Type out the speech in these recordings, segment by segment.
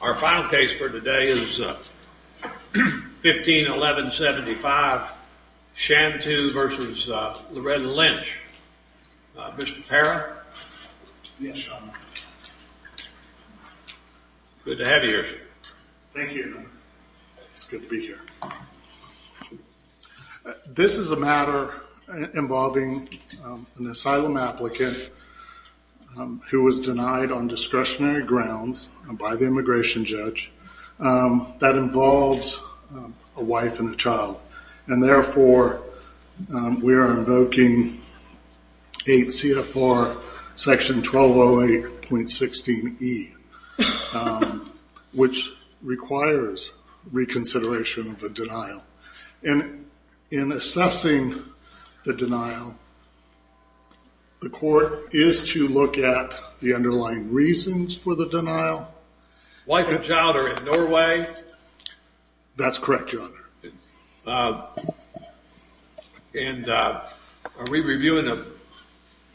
Our final case for today is 15-11-75, Shantu v. Loretta Lynch. Mr. Parra, good to have you here. Thank you, it's good to be here. This is a matter involving an asylum applicant who was denied on discretionary grounds by the immigration judge that involves a wife and a child. And therefore, we are invoking 8 C.F.R. section 1208.16e, which requires reconsideration of the denial. In assessing the denial, the court is to look at the underlying reasons for the denial. Wife and child are in Norway? That's correct, your honor. And are we reviewing a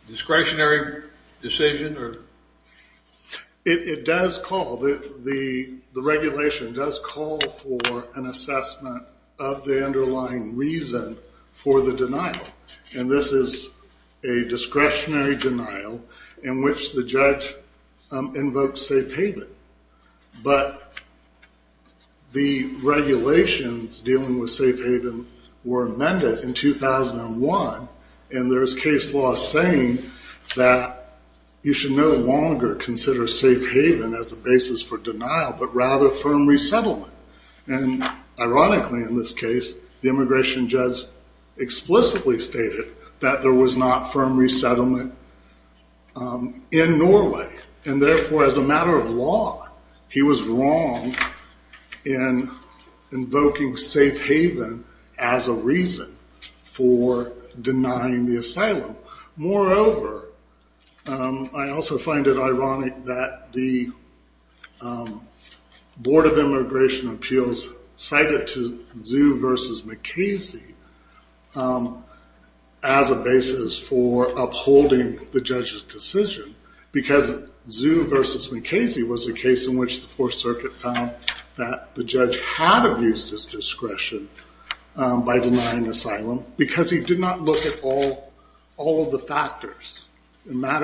discretionary decision or? It does call, the regulation does call for an assessment of the underlying reason for the denial. And this is a discretionary denial in which the judge invokes safe haven. But the regulations dealing with safe haven were amended in 2001 and there is case law saying that you should no longer consider safe haven as a basis for denial. The immigration judge explicitly stated that there was not firm resettlement in Norway. And therefore, as a matter of law, he was wrong in invoking safe haven as a reason for denying the asylum. Moreover, I also find it ironic that the Board of Justice did not look at Mukasey as a basis for upholding the judge's decision because Zu versus Mukasey was a case in which the Fourth Circuit found that the judge had abused his discretion by denying asylum because he did not look at all of the factors. In fact,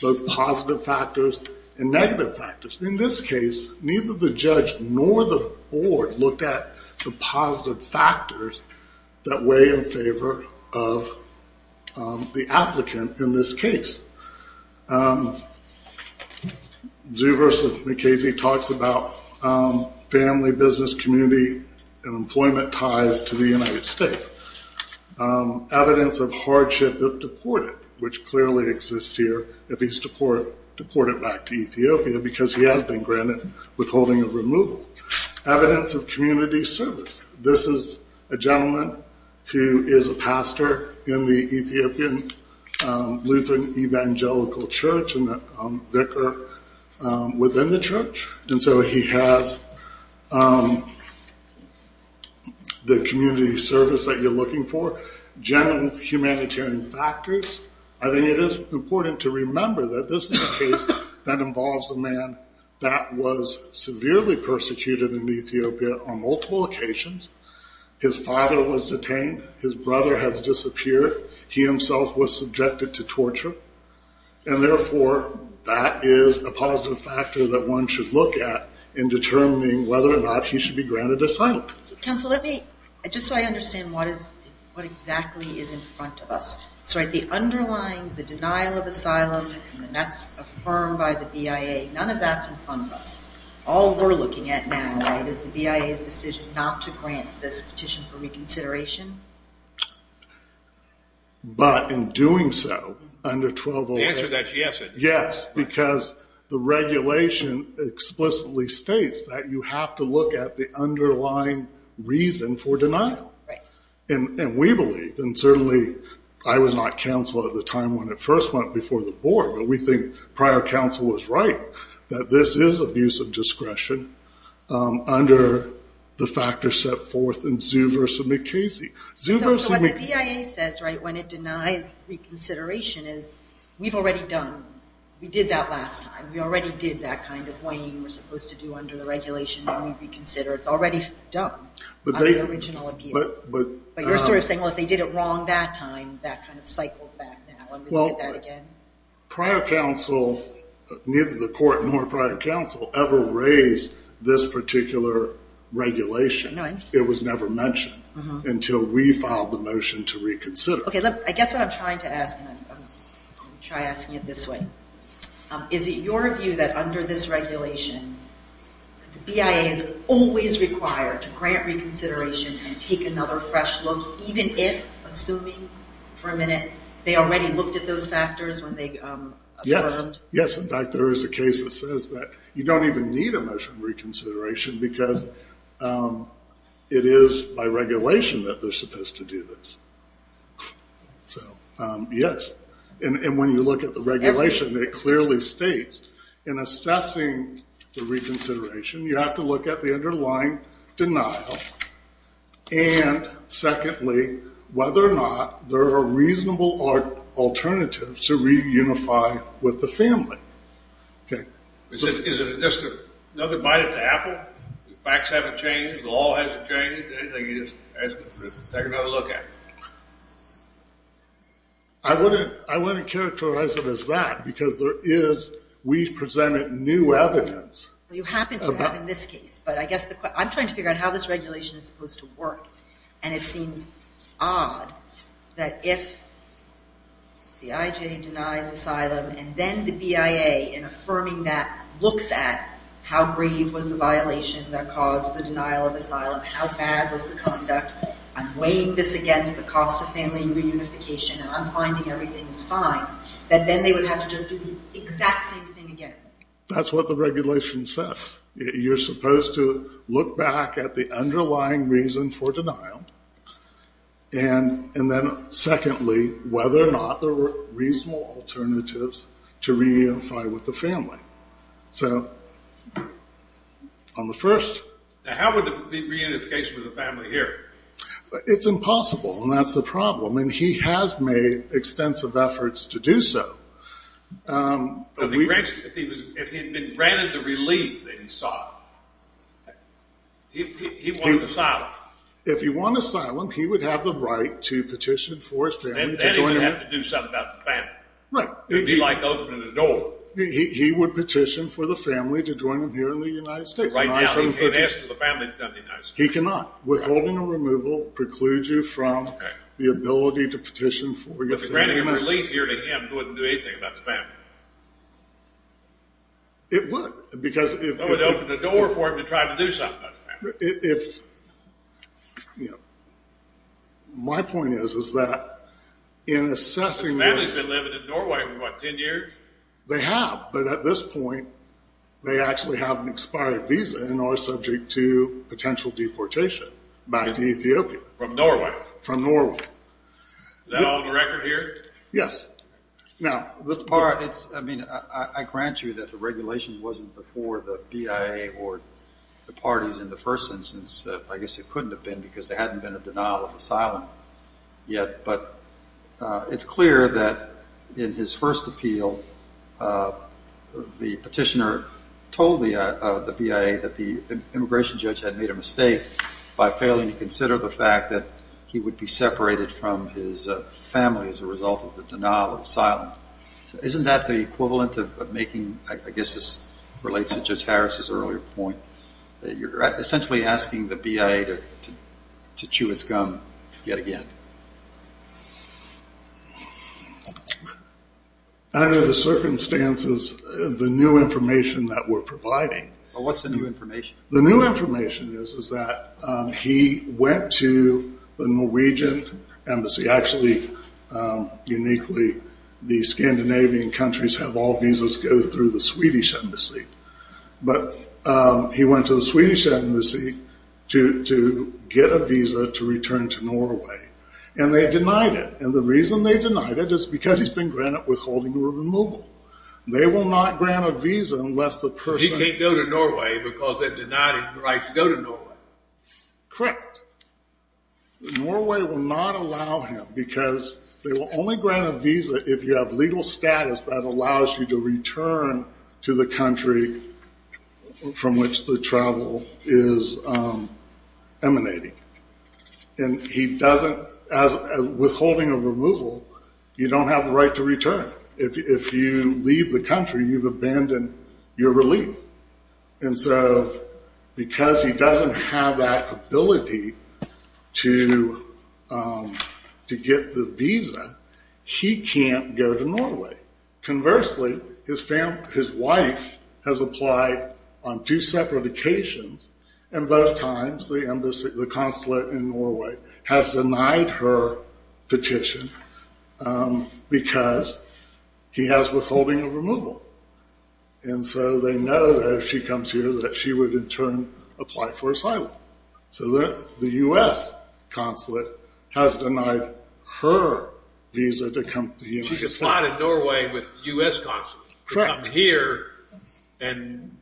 both positive factors and negative factors. In this case, neither the judge nor the board looked at the positive factors that weigh in favor of the applicant in this case. Zu versus Mukasey talks about family, business, community, and employment ties to the United States. Evidence of hardship if deported, which clearly exists here if he's deported back to Ethiopia because he has been granted withholding of removal. Evidence of community service. This is a gentleman who is a pastor in the Ethiopian Lutheran Evangelical Church and a vicar within the church. He has the community service that you're looking for. General humanitarian factors. I think it is important to remember that this is a case that involves a man that was severely persecuted in Ethiopia on multiple occasions. His father was detained. His brother has disappeared. He himself was subjected to torture. Therefore, that is a positive factor that one should look at in determining whether or not he should be granted asylum. Counsel, just so I understand what exactly is in front of us. The underlying denial of asylum, that's affirmed by the BIA. None of that is in front of us. All we're looking at now is the BIA's decision not to grant this petition for reconsideration. But in doing so, under 12-11- The answer to that is yes. Yes, because the regulation explicitly states that you have to look at the underlying reason for denial. And we believe, and certainly I was not counsel at the time when it first went before the board, but we think prior counsel was right. That this is abuse of discretion under the factors set forth in Zhu versus McKasey. So what the BIA says when it denies reconsideration is we've already done, we did that last time. We already did that kind of weighing we're supposed to do under the regulation when we reconsider. It's already done on the original appeal. But you're sort of saying, well, if they did it wrong that time, that kind of cycles back now. Well, prior counsel, neither the court nor prior counsel ever raised this particular regulation. It was never mentioned until we filed the motion to reconsider. I guess what I'm trying to ask, and I'm going to try asking it this way. Is it your view that under this regulation, the BIA is always required to grant reconsideration and take another fresh look, even if, assuming for a minute, they already looked at those factors when they affirmed? Yes, in fact, there is a case that says that you don't even need a measure of reconsideration because it is by regulation that they're supposed to do this. So, yes. And when you look at the regulation, it clearly states in assessing the reconsideration, you have to look at the underlying denial. And secondly, whether or not there are reasonable alternatives to reunify with the family. Okay. Is it just another bite at the apple? The facts haven't changed? The law hasn't changed? Take another look at it. I wouldn't characterize it as that because there is, we've presented new evidence. You happen to have in this case, but I guess the question, I'm trying to figure out how this regulation is supposed to work. And it seems odd that if the IJ denies asylum and then the BIA, in affirming that, looks at how grave was the violation that caused the denial of asylum, how bad was the conduct, I'm weighing this against the cost of family reunification and I'm finding everything is fine, that then they would have to just do the exact same thing again. That's what the regulation says. You're supposed to look back at the underlying reason for denial. And then secondly, whether or not there were reasonable alternatives to reunify with the family. So, on the first. How would reunification with the family here? It's impossible and that's the problem. And he has made extensive efforts to do so. If he had been granted the relief that he sought, he wouldn't have asylum. If he won asylum, he would have the right to petition for his family to join him. Then he would have to do something about the family. Right. He'd be like opening the door. He would petition for the family to join him here in the United States. Right now, he can't ask for the family to come to the United States. He cannot. Withholding a removal precludes you from the ability to petition for your family. But if he granted relief here to him, it wouldn't do anything about the family. It would. It would open the door for him to try to do something about the family. My point is that in assessing this. The family has been living in Norway for what, 10 years? They have. But at this point, they actually have an expired visa and are subject to potential deportation back to Ethiopia. From Norway? From Norway. Is that all on the record here? Yes. Now, Mr. Barr, I grant you that the regulation wasn't before the BIA or the parties in the first instance. I guess it couldn't have been because there hadn't been a denial of asylum yet. But it's clear that in his first appeal, the petitioner told the BIA that the immigration judge had made a mistake by failing to consider the fact that he would be separated from his family as a result of the denial of asylum. Isn't that the equivalent of making, I guess this relates to Judge Harris' earlier point, that you're essentially asking the BIA to chew its gum yet again? Under the circumstances, the new information that we're providing. What's the new information? The new information is that he went to the Norwegian embassy. Actually, uniquely, the Scandinavian countries have all visas go through the Swedish embassy. But he went to the Swedish embassy to get a visa to return to Norway. And they denied it. And the reason they denied it is because he's been granted withholding removal. They will not grant a visa unless the person… They denied him the right to go to Norway. Correct. Norway will not allow him because they will only grant a visa if you have legal status that allows you to return to the country from which the travel is emanating. And he doesn't, as withholding of removal, you don't have the right to return. If you leave the country, you've abandoned your relief. And so because he doesn't have that ability to get the visa, he can't go to Norway. Conversely, his wife has applied on two separate occasions. And both times, the consulate in Norway has denied her petition because he has withholding of removal. And so they know that if she comes here that she would, in turn, apply for asylum. So the U.S. consulate has denied her visa to come to the U.S. She just applied to Norway with U.S. consulate. Correct. To come here, and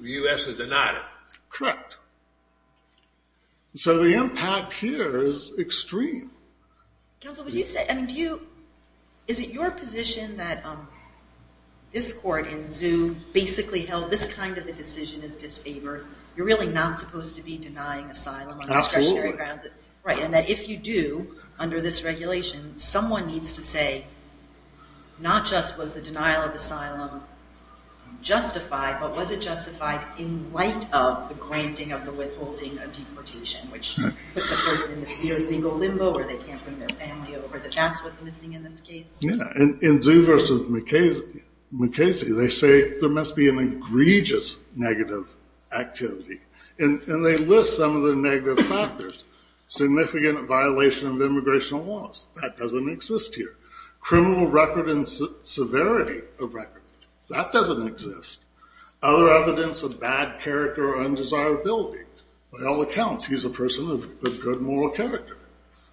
the U.S. has denied it. Correct. So the impact here is extreme. Counsel, would you say, I mean, do you, is it your position that this court in Zoom basically held this kind of a decision is disfavored? You're really not supposed to be denying asylum on discretionary grounds. Absolutely. Right, and that if you do, under this regulation, someone needs to say, not just was the denial of asylum justified, but was it justified in light of the granting of the withholding of deportation, which puts a person in a severe legal limbo where they can't bring their family over, that that's what's missing in this case? Yeah. In Zoom versus McKasey, they say there must be an egregious negative activity. And they list some of the negative factors. Significant violation of immigration laws, that doesn't exist here. Criminal record and severity of record, that doesn't exist. Other evidence of bad character or undesirability. By all accounts, he's a person of good moral character.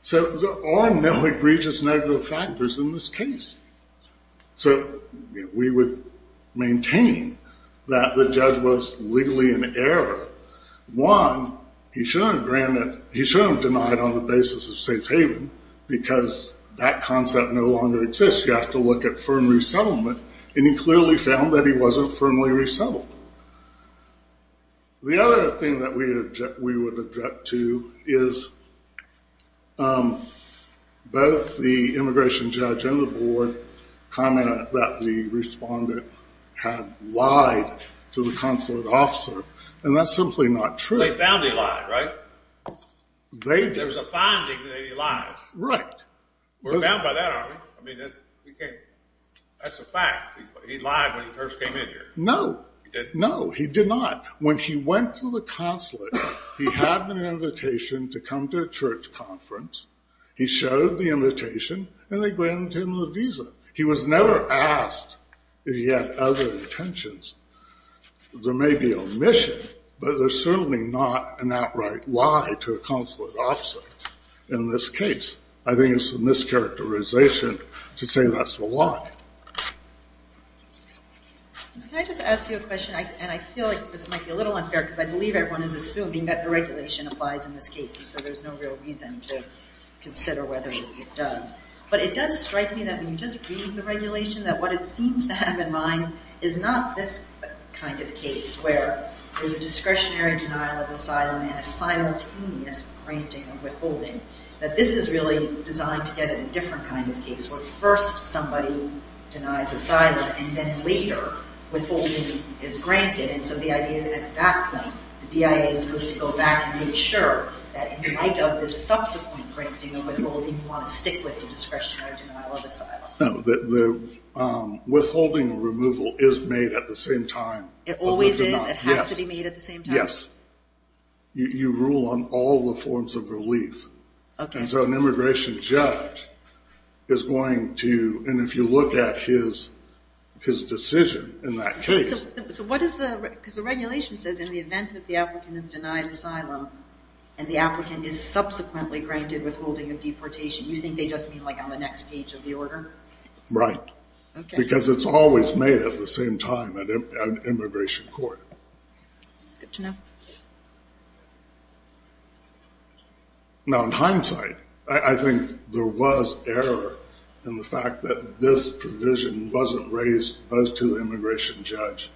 So there are no egregious negative factors in this case. So we would maintain that the judge was legally in error. One, he should have denied on the basis of safe haven, because that concept no longer exists. You have to look at firm resettlement. And he clearly found that he wasn't firmly resettled. The other thing that we would object to is both the immigration judge and the board commented that the respondent had lied to the consulate officer. And that's simply not true. They found he lied, right? There's a finding that he lied. Right. We're bound by that, aren't we? I mean, that's a fact. He lied when he first came in here. No. No, he did not. When he went to the consulate, he had an invitation to come to a church conference. He showed the invitation, and they granted him the visa. He was never asked if he had other intentions. There may be omission, but there's certainly not an outright lie to a consulate officer in this case. I think it's a mischaracterization to say that's a lie. Can I just ask you a question? And I feel like this might be a little unfair, because I believe everyone is assuming that the regulation applies in this case, and so there's no real reason to consider whether it does. But it does strike me that when you just read the regulation, that what it seems to have in mind is not this kind of case, where there's a discretionary denial of asylum and a simultaneous granting of withholding, that this is really designed to get at a different kind of case, where first somebody denies asylum and then later withholding is granted. And so the idea is that at that point the BIA is supposed to go back and make sure that in light of this subsequent granting of withholding, you want to stick with the discretionary denial of asylum. No, the withholding removal is made at the same time. It always is? It has to be made at the same time? Yes. You rule on all the forms of relief. And so an immigration judge is going to, and if you look at his decision in that case. So what is the, because the regulation says in the event that the applicant is denied asylum, and the applicant is subsequently granted withholding of deportation, you think they just mean like on the next page of the order? Right. Because it's always made at the same time at an immigration court. That's good to know. Now in hindsight, I think there was error in the fact that this provision wasn't raised, both to the immigration judge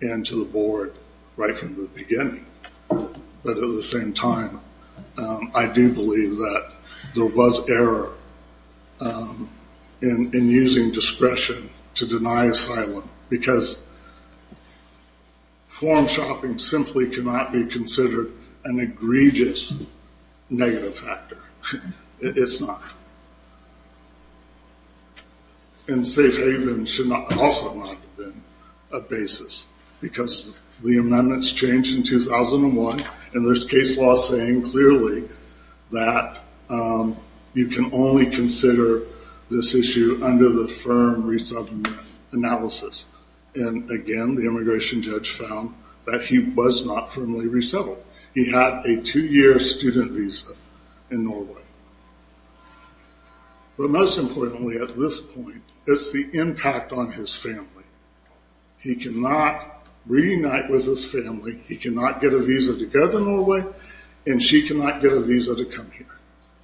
and to the board right from the beginning. But at the same time, I do believe that there was error in using discretion to deny asylum, because form shopping simply cannot be considered an egregious negative factor. It's not. And safe haven should also not have been a basis, because the amendments changed in 2001, and there's case law saying clearly that you can only consider this issue under the firm resettlement analysis. And again, the immigration judge found that he was not firmly resettled. He had a two-year student visa in Norway. But most importantly at this point, it's the impact on his family. He cannot reunite with his family. He cannot get a visa to go to Norway, and she cannot get a visa to come here.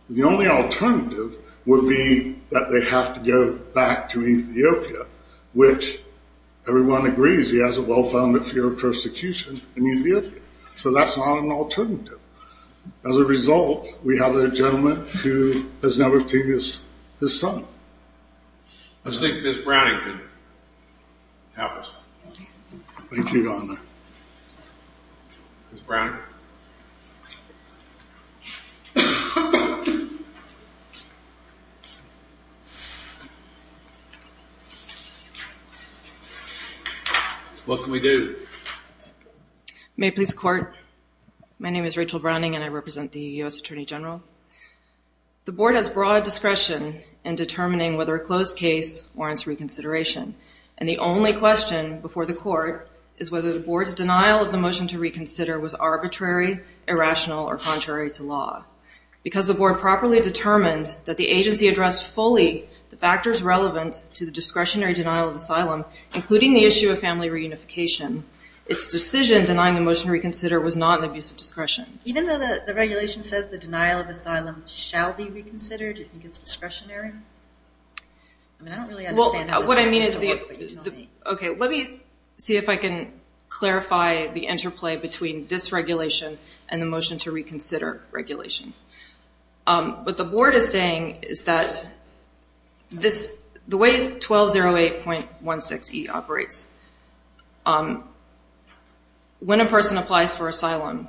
The only alternative would be that they have to go back to Ethiopia, which everyone agrees he has a well-founded fear of persecution in Ethiopia. So that's not an alternative. As a result, we have a gentleman who has never seen his son. I think Ms. Browning can help us. Thank you, Your Honor. Ms. Browning? What can we do? May it please the Court? My name is Rachel Browning, and I represent the U.S. Attorney General. The Board has broad discretion in determining whether a closed case warrants reconsideration, and the only question before the Court is whether the Board's denial of the motion to reconsider was arbitrary, irrational, or contrary to law. Because the Board properly determined that the agency addressed fully the factors relevant to the discretionary including the issue of family reunification, its decision denying the motion to reconsider was not an abuse of discretion. Even though the regulation says the denial of asylum shall be reconsidered, do you think it's discretionary? I mean, I don't really understand how this is considered, but you tell me. Okay, let me see if I can clarify the interplay between this regulation and the motion to reconsider regulation. What the Board is saying is that the way 1208.16e operates, when a person applies for asylum,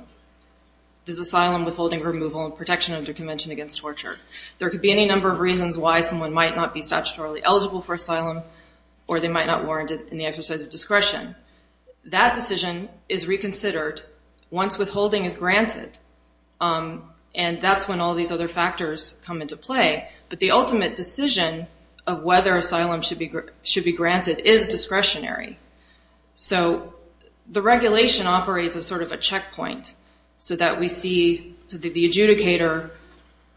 there's asylum withholding, removal, and protection under convention against torture. There could be any number of reasons why someone might not be statutorily eligible for asylum or they might not warrant it in the exercise of discretion. That decision is reconsidered once withholding is granted, and that's when all these other factors come into play. But the ultimate decision of whether asylum should be granted is discretionary. So the regulation operates as sort of a checkpoint so that we see the adjudicator,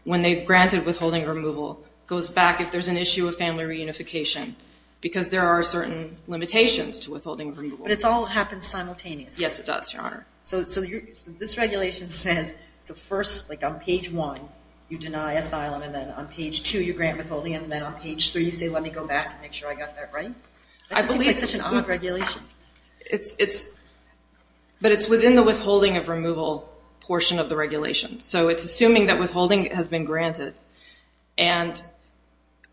when they've granted withholding or removal, goes back if there's an issue of family reunification because there are certain limitations to withholding or removal. Yes, it does, Your Honor. So this regulation says, so first, like on page one, you deny asylum, and then on page two, you grant withholding, and then on page three, you say, let me go back and make sure I got that right? That just seems like such an odd regulation. But it's within the withholding of removal portion of the regulation. So it's assuming that withholding has been granted, and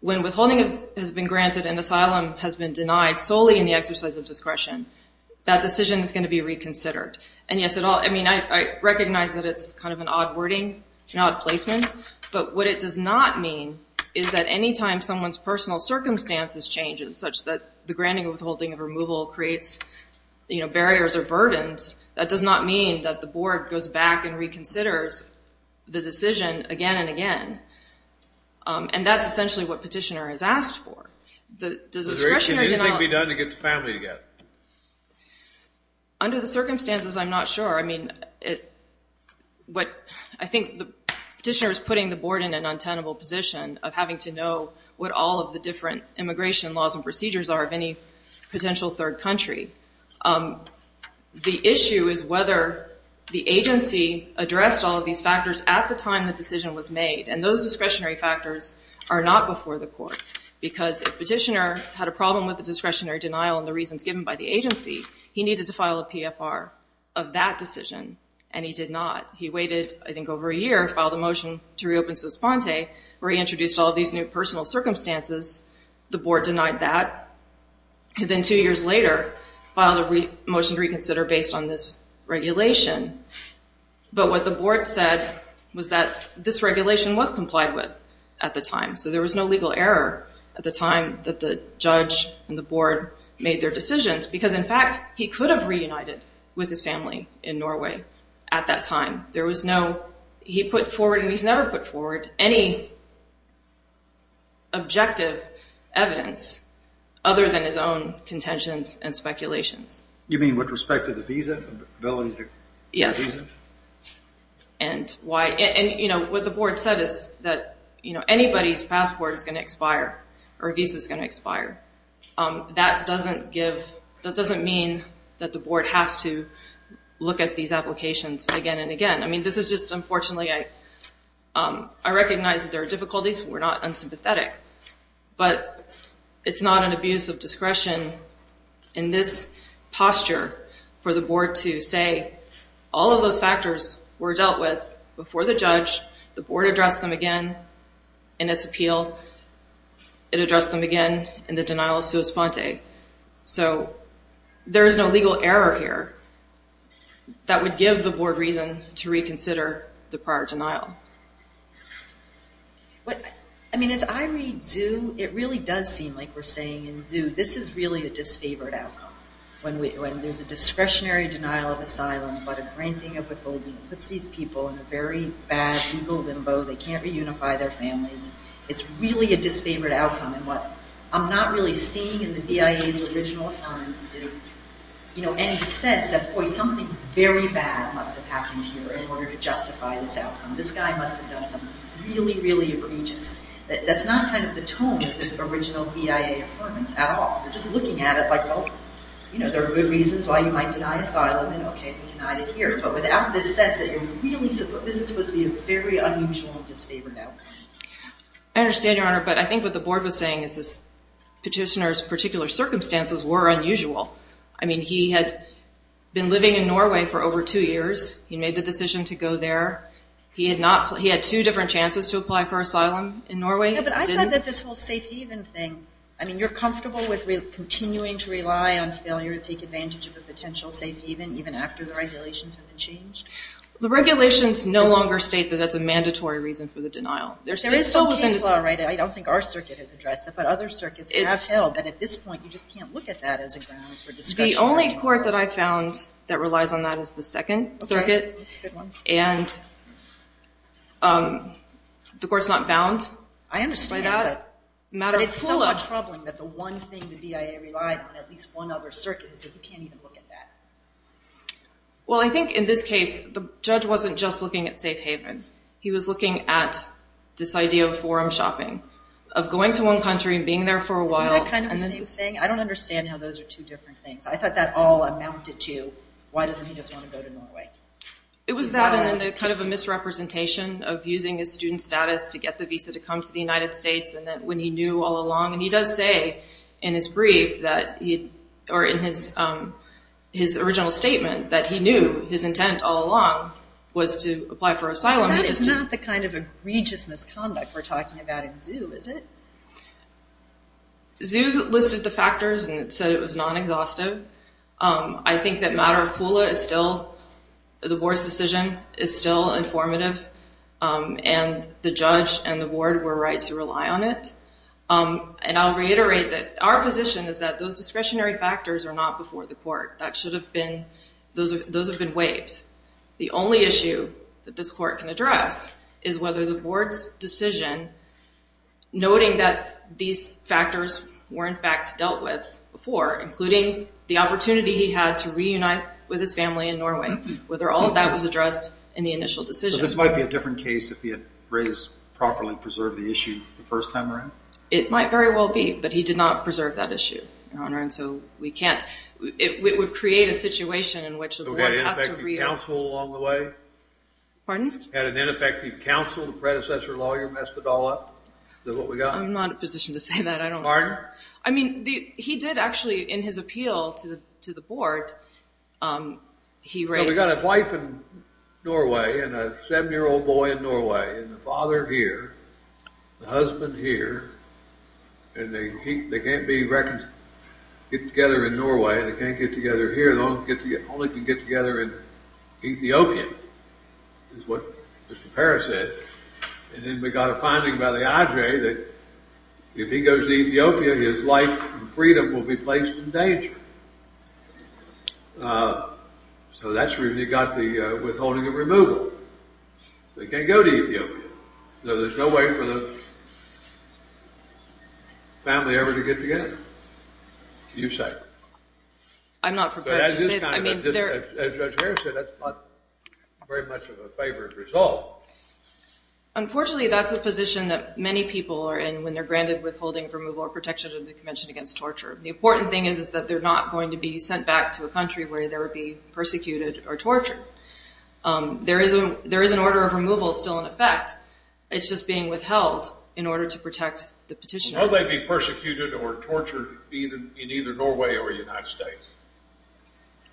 when withholding has been granted and asylum has been denied solely in the exercise of discretion, that decision is going to be reconsidered. And yes, I mean, I recognize that it's kind of an odd wording, an odd placement, but what it does not mean is that any time someone's personal circumstances changes such that the granting or withholding of removal creates barriers or burdens, that does not mean that the board goes back and reconsiders the decision again and again. And that's essentially what Petitioner has asked for. Does discretionary denial— It should be done to get the family together. Under the circumstances, I'm not sure. I mean, I think Petitioner is putting the board in an untenable position of having to know what all of the different immigration laws and procedures are of any potential third country. The issue is whether the agency addressed all of these factors at the time the decision was made, and those discretionary factors are not before the court, because if Petitioner had a problem with the discretionary denial and the reasons given by the agency, he needed to file a PFR of that decision, and he did not. He waited, I think, over a year, filed a motion to reopen Suspente, where he introduced all of these new personal circumstances. The board denied that. Then two years later, filed a motion to reconsider based on this regulation. But what the board said was that this regulation was complied with at the time, so there was no legal error at the time that the judge and the board made their decisions, because, in fact, he could have reunited with his family in Norway at that time. There was no—he put forward, and he's never put forward, any objective evidence other than his own contentions and speculations. You mean with respect to the visa? Yes. And why—and, you know, what the board said is that, you know, anybody's passport is going to expire or a visa is going to expire. That doesn't give—that doesn't mean that the board has to look at these applications again and again. I mean, this is just—unfortunately, I recognize that there are difficulties. We're not unsympathetic. But it's not an abuse of discretion in this posture for the board to say, all of those factors were dealt with before the judge. The board addressed them again in its appeal. It addressed them again in the denial of sua sponte. So there is no legal error here that would give the board reason to reconsider the prior denial. I mean, as I read Zhu, it really does seem like we're saying in Zhu, this is really a disfavored outcome. When there's a discretionary denial of asylum, but a granting of withholding puts these people in a very bad legal limbo. They can't reunify their families. It's really a disfavored outcome. And what I'm not really seeing in the BIA's original offense is, you know, any sense that, boy, something very bad must have happened here in order to justify this outcome. This guy must have done something really, really egregious. That's not kind of the tone of the original BIA affirmance at all. They're just looking at it like, oh, you know, there are good reasons why you might deny asylum and, okay, reunite it here. But without this sense that you're really supposed to be a very unusual disfavored outcome. I understand, Your Honor, but I think what the board was saying is this petitioner's particular circumstances were unusual. I mean, he had been living in Norway for over two years. He made the decision to go there. He had two different chances to apply for asylum in Norway. Yeah, but I thought that this whole safe haven thing, I mean, you're comfortable with continuing to rely on failure to take advantage of a potential safe haven even after the regulations have been changed? The regulations no longer state that that's a mandatory reason for the denial. There is still case law, right? I don't think our circuit has addressed it, but other circuits have held that at this point you just can't look at that as a grounds for discretionary denial. The only court that I found that relies on that is the Second Circuit. That's a good one. And the court's not bound by that. I understand, but it's somewhat troubling that the one thing the BIA relied on, at least one other circuit, is that you can't even look at that. Well, I think in this case the judge wasn't just looking at safe haven. He was looking at this idea of forum shopping, of going to one country and being there for a while. Isn't that kind of the same thing? I don't understand how those are two different things. I thought that all amounted to, why doesn't he just want to go to Norway? It was that and then kind of a misrepresentation of using his student status to get the visa to come to the United States and that when he knew all along, and he does say in his brief that he, or in his original statement, that he knew his intent all along was to apply for asylum. That is not the kind of egregious misconduct we're talking about in ZOO, is it? ZOO listed the factors and it said it was non-exhaustive. I think that matter of pool is still, the board's decision is still informative, and the judge and the board were right to rely on it. And I'll reiterate that our position is that those discretionary factors are not before the court. That should have been, those have been waived. The only issue that this court can address is whether the board's decision, noting that these factors were in fact dealt with before, including the opportunity he had to reunite with his family in Norway, whether all of that was addressed in the initial decision. So this might be a different case if he had raised, properly preserved the issue the first time around? It might very well be, but he did not preserve that issue, Your Honor, and so we can't, it would create a situation in which the board has to re- Had an ineffective counsel along the way? Pardon? Had an ineffective counsel, the predecessor lawyer messed it all up? Is that what we got? I'm not in a position to say that, I don't know. Pardon? I mean, he did actually, in his appeal to the board, he raised- We've got a wife in Norway and a seven-year-old boy in Norway, and the father here, the husband here, and they can't get together in Norway, they can't get together here, they can only get together in Ethiopia, is what Mr. Parris said. And then we got a finding by the IJ that if he goes to Ethiopia, his life and freedom will be placed in danger. So that's where we got the withholding of removal. They can't go to Ethiopia. So there's no way for the family ever to get together, you say. I'm not prepared to say that. As Judge Harris said, that's not very much of a favored result. Unfortunately, that's a position that many people are in when they're granted withholding of removal or protection of the Convention Against Torture. The important thing is that they're not going to be sent back to a country where they would be persecuted or tortured. There is an order of removal still in effect. It's just being withheld in order to protect the petitioner. Won't they be persecuted or tortured in either Norway or the United States?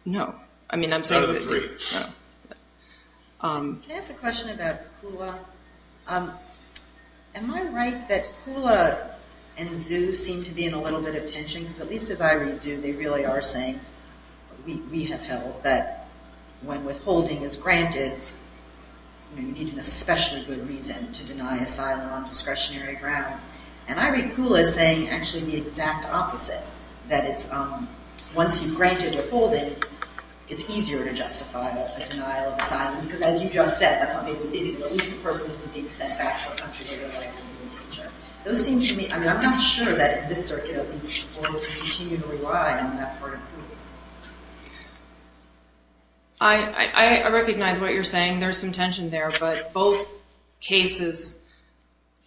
No. None of the three. Can I ask a question about PULA? Am I right that PULA and ZOO seem to be in a little bit of tension? Because at least as I read ZOO, they really are saying, we have held that when withholding is granted, you need an especially good reason to deny asylum on discretionary grounds. And I read PULA saying actually the exact opposite, that once you've granted withholding, it's easier to justify a denial of asylum. Because as you just said, at least the person isn't being sent back to a country where they're going to be tortured. I'm not sure that this circuit at least will continue to rely on that part of PULA. I recognize what you're saying. There's some tension there. But both cases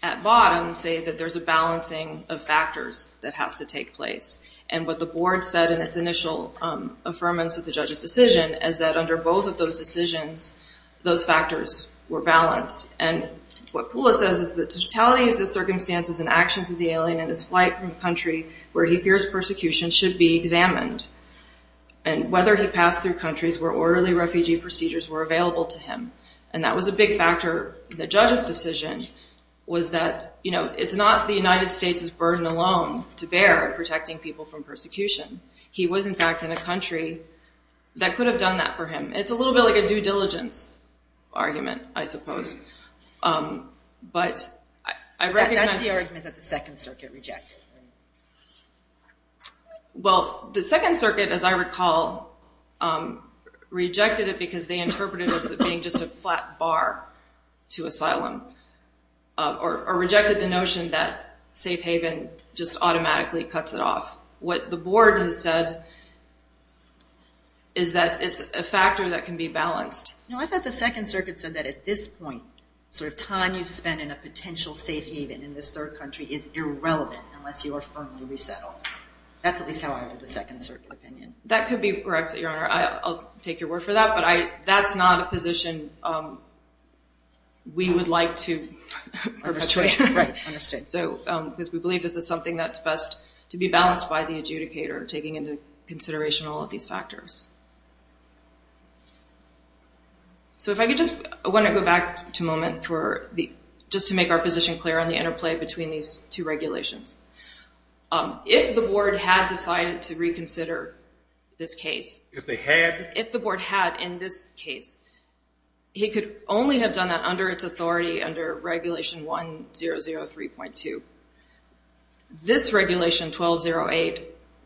at bottom say that there's a balancing of factors that has to take place. And what the board said in its initial affirmance of the judge's decision is that under both of those decisions, those factors were balanced. And what PULA says is the totality of the circumstances and actions of the alien in his flight from the country where he fears persecution should be examined. And whether he passed through countries where orderly refugee procedures were available to him. And that was a big factor in the judge's decision was that, you know, it's not the United States' burden alone to bear protecting people from He was, in fact, in a country that could have done that for him. It's a little bit like a due diligence argument, I suppose. But I recognize- That's the argument that the Second Circuit rejected. Well, the Second Circuit, as I recall, rejected it because they interpreted it as it being just a flat bar to asylum. Or rejected the notion that safe haven just automatically cuts it off. What the board has said is that it's a factor that can be balanced. No, I thought the Second Circuit said that at this point, sort of time you've spent in a potential safe haven in this third country is irrelevant unless you are firmly resettled. That's at least how I heard the Second Circuit opinion. That could be correct, Your Honor. I'll take your word for that. But that's not a position we would like to perpetuate. Right. Understood. Because we believe this is something that's best to be balanced by the adjudicator taking into consideration all of these factors. So if I could just- I want to go back to a moment just to make our position clear on the interplay between these two regulations. If the board had decided to reconsider this case- If they had? If the board had in this case, he could only have done that under its authority under Regulation 1003.2. This Regulation 1208,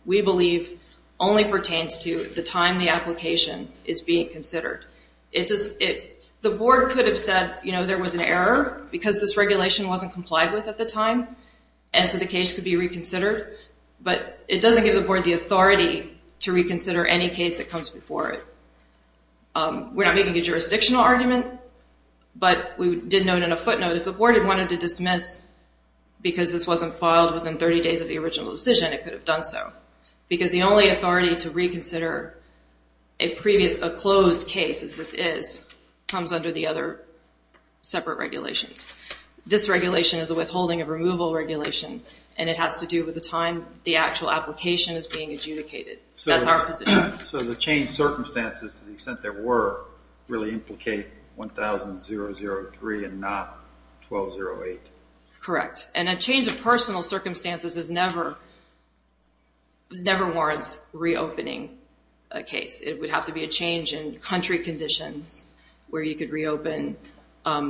we believe, only pertains to the time the application is being considered. The board could have said, you know, there was an error because this regulation wasn't complied with at the time and so the case could be reconsidered. But it doesn't give the board the authority to reconsider any case that comes before it. We're not making a jurisdictional argument, but we did note in a footnote if the board had wanted to dismiss because this wasn't filed within 30 days of the original decision, it could have done so. Because the only authority to reconsider a previous, a closed case as this is, comes under the other separate regulations. This regulation is a withholding of removal regulation, and it has to do with the time the actual application is being adjudicated. That's our position. So the changed circumstances, to the extent there were, really implicate 1003 and not 1208. Correct. And a change of personal circumstances never warrants reopening a case. It would have to be a change in country conditions where you could reopen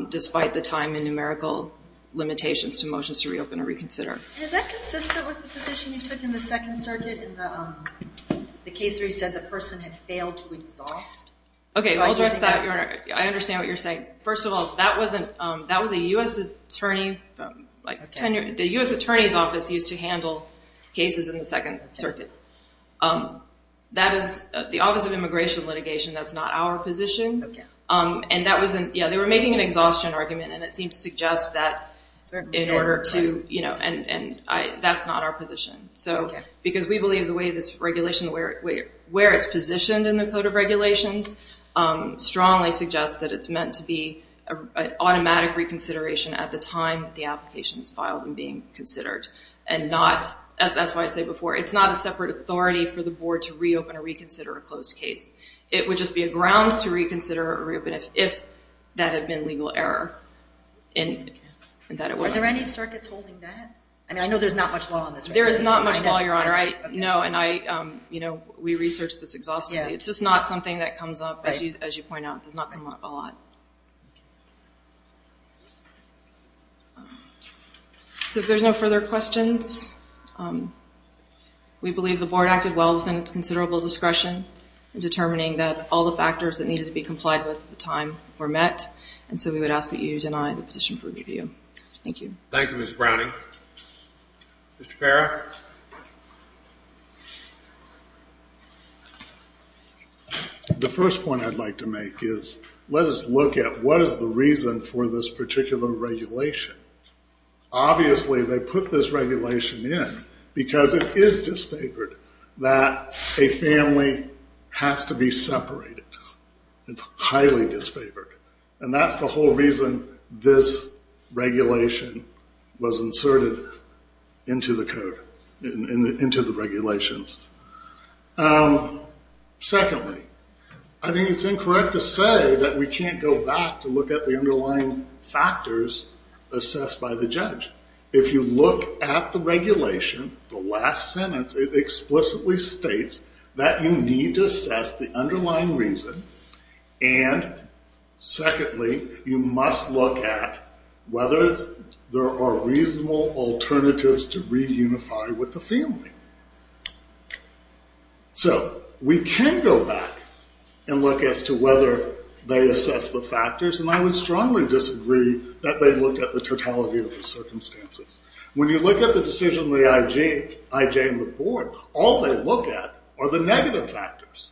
despite the time and numerical limitations to motions to reopen or reconsider. Is that consistent with the position you took in the Second Circuit in the case where you said the person had failed to exhaust? Okay, I'll address that. I understand what you're saying. First of all, that was a U.S. attorney. The U.S. Attorney's Office used to handle cases in the Second Circuit. The Office of Immigration Litigation, that's not our position. Yeah, they were making an exhaustion argument, and it seems to suggest that in order to, you know, and that's not our position. Because we believe the way this regulation, where it's positioned in the Code of Regulations, strongly suggests that it's meant to be an automatic reconsideration at the time the application is filed and being considered. That's why I say before, it's not a separate authority for the Board to reopen or reconsider a closed case. It would just be a grounds to reconsider or reopen if that had been legal error. Are there any circuits holding that? I mean, I know there's not much law on this. There is not much law, Your Honor. I know, and I, you know, we researched this exhaustively. It's just not something that comes up, as you point out, does not come up a lot. So if there's no further questions, we believe the Board acted well within its considerable discretion in determining that all the factors that needed to be complied with at the time were met, and so we would ask that you deny the petition for review. Thank you. Thank you, Ms. Browning. Mr. Parra? The first point I'd like to make is let us look at what is the reason for this particular regulation. Obviously, they put this regulation in because it is disfavored that a family has to be separated. It's highly disfavored, and that's the whole reason this regulation was inserted into the code, into the regulations. Secondly, I think it's incorrect to say that we can't go back to look at the underlying factors assessed by the judge. In fact, if you look at the regulation, the last sentence, it explicitly states that you need to assess the underlying reason, and secondly, you must look at whether there are reasonable alternatives to reunify with the family. So we can go back and look as to whether they assess the factors, and I would strongly disagree that they look at the totality of the circumstances. When you look at the decision of the IJ and the board, all they look at are the negative factors.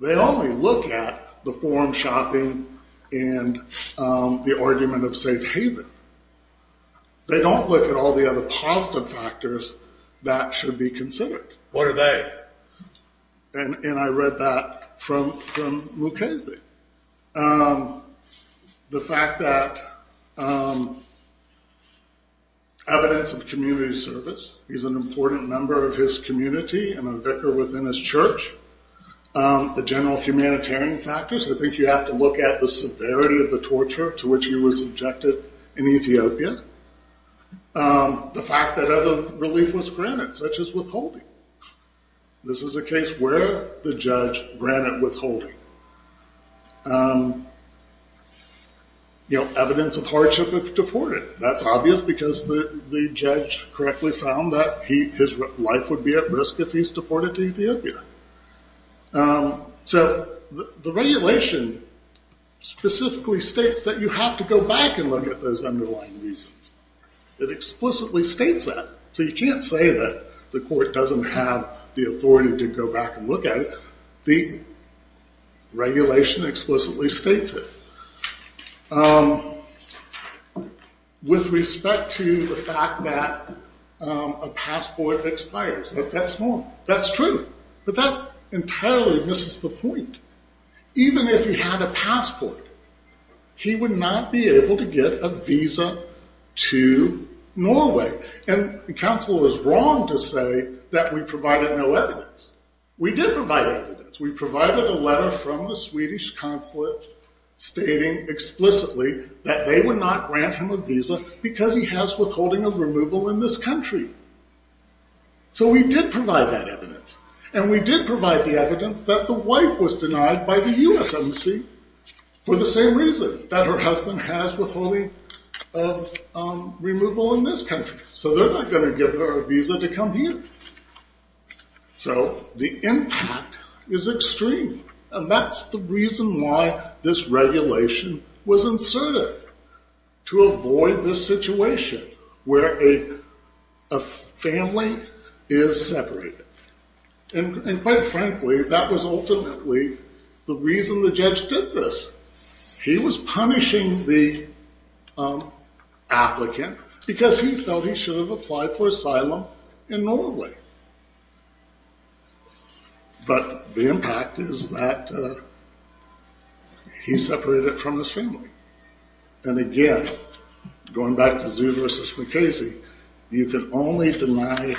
They only look at the form shopping and the argument of safe haven. They don't look at all the other positive factors that should be considered. What are they? And I read that from Mukasey. The fact that evidence of community service. He's an important member of his community and a vicar within his church. The general humanitarian factors. I think you have to look at the severity of the torture to which he was subjected in Ethiopia. The fact that other relief was granted, such as withholding. This is a case where the judge granted withholding. Evidence of hardship if deported. That's obvious because the judge correctly found that his life would be at risk if he's deported to Ethiopia. The regulation specifically states that you have to go back and look at those underlying reasons. It explicitly states that. You can't say that the court doesn't have the authority to go back and look at it. The regulation explicitly states it. With respect to the fact that a passport expires. That's wrong. That's true. But that entirely misses the point. Even if he had a passport, he would not be able to get a visa to Norway. And counsel is wrong to say that we provided no evidence. We did provide evidence. We provided a letter from the Swedish consulate stating explicitly that they would not grant him a visa because he has withholding of removal in this country. So we did provide that evidence. And we did provide the evidence that the wife was denied by the US Embassy for the same reason. That her husband has withholding of removal in this country. So they're not going to give her a visa to come here. So the impact is extreme. And that's the reason why this regulation was inserted. To avoid this situation where a family is separated. And quite frankly, that was ultimately the reason the judge did this. He was punishing the applicant because he felt he should have applied for asylum in Norway. But the impact is that he separated it from his family. And again, going back to Zhu versus Mukasey, you can only deny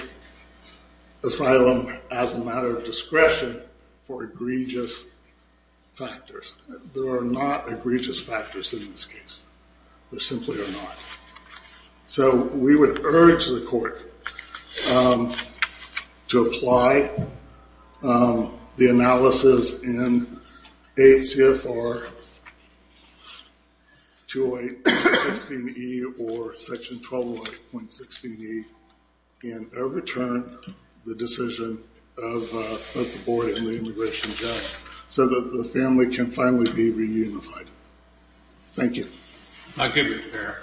asylum as a matter of discretion for egregious factors. There are not egregious factors in this case. There simply are not. So we would urge the court to apply the analysis in 8 CFR 208.16e or section 1208.16e. And overturn the decision of the board and the immigration judge. So that the family can finally be reunified. Thank you. Thank you, Mr. Chair.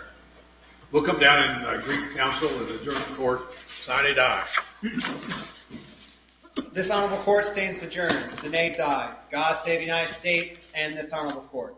We'll come down and greet the council and adjourn the court. Sinead, aye. This honorable court stands adjourned. Sinead, aye. God save the United States and this honorable court.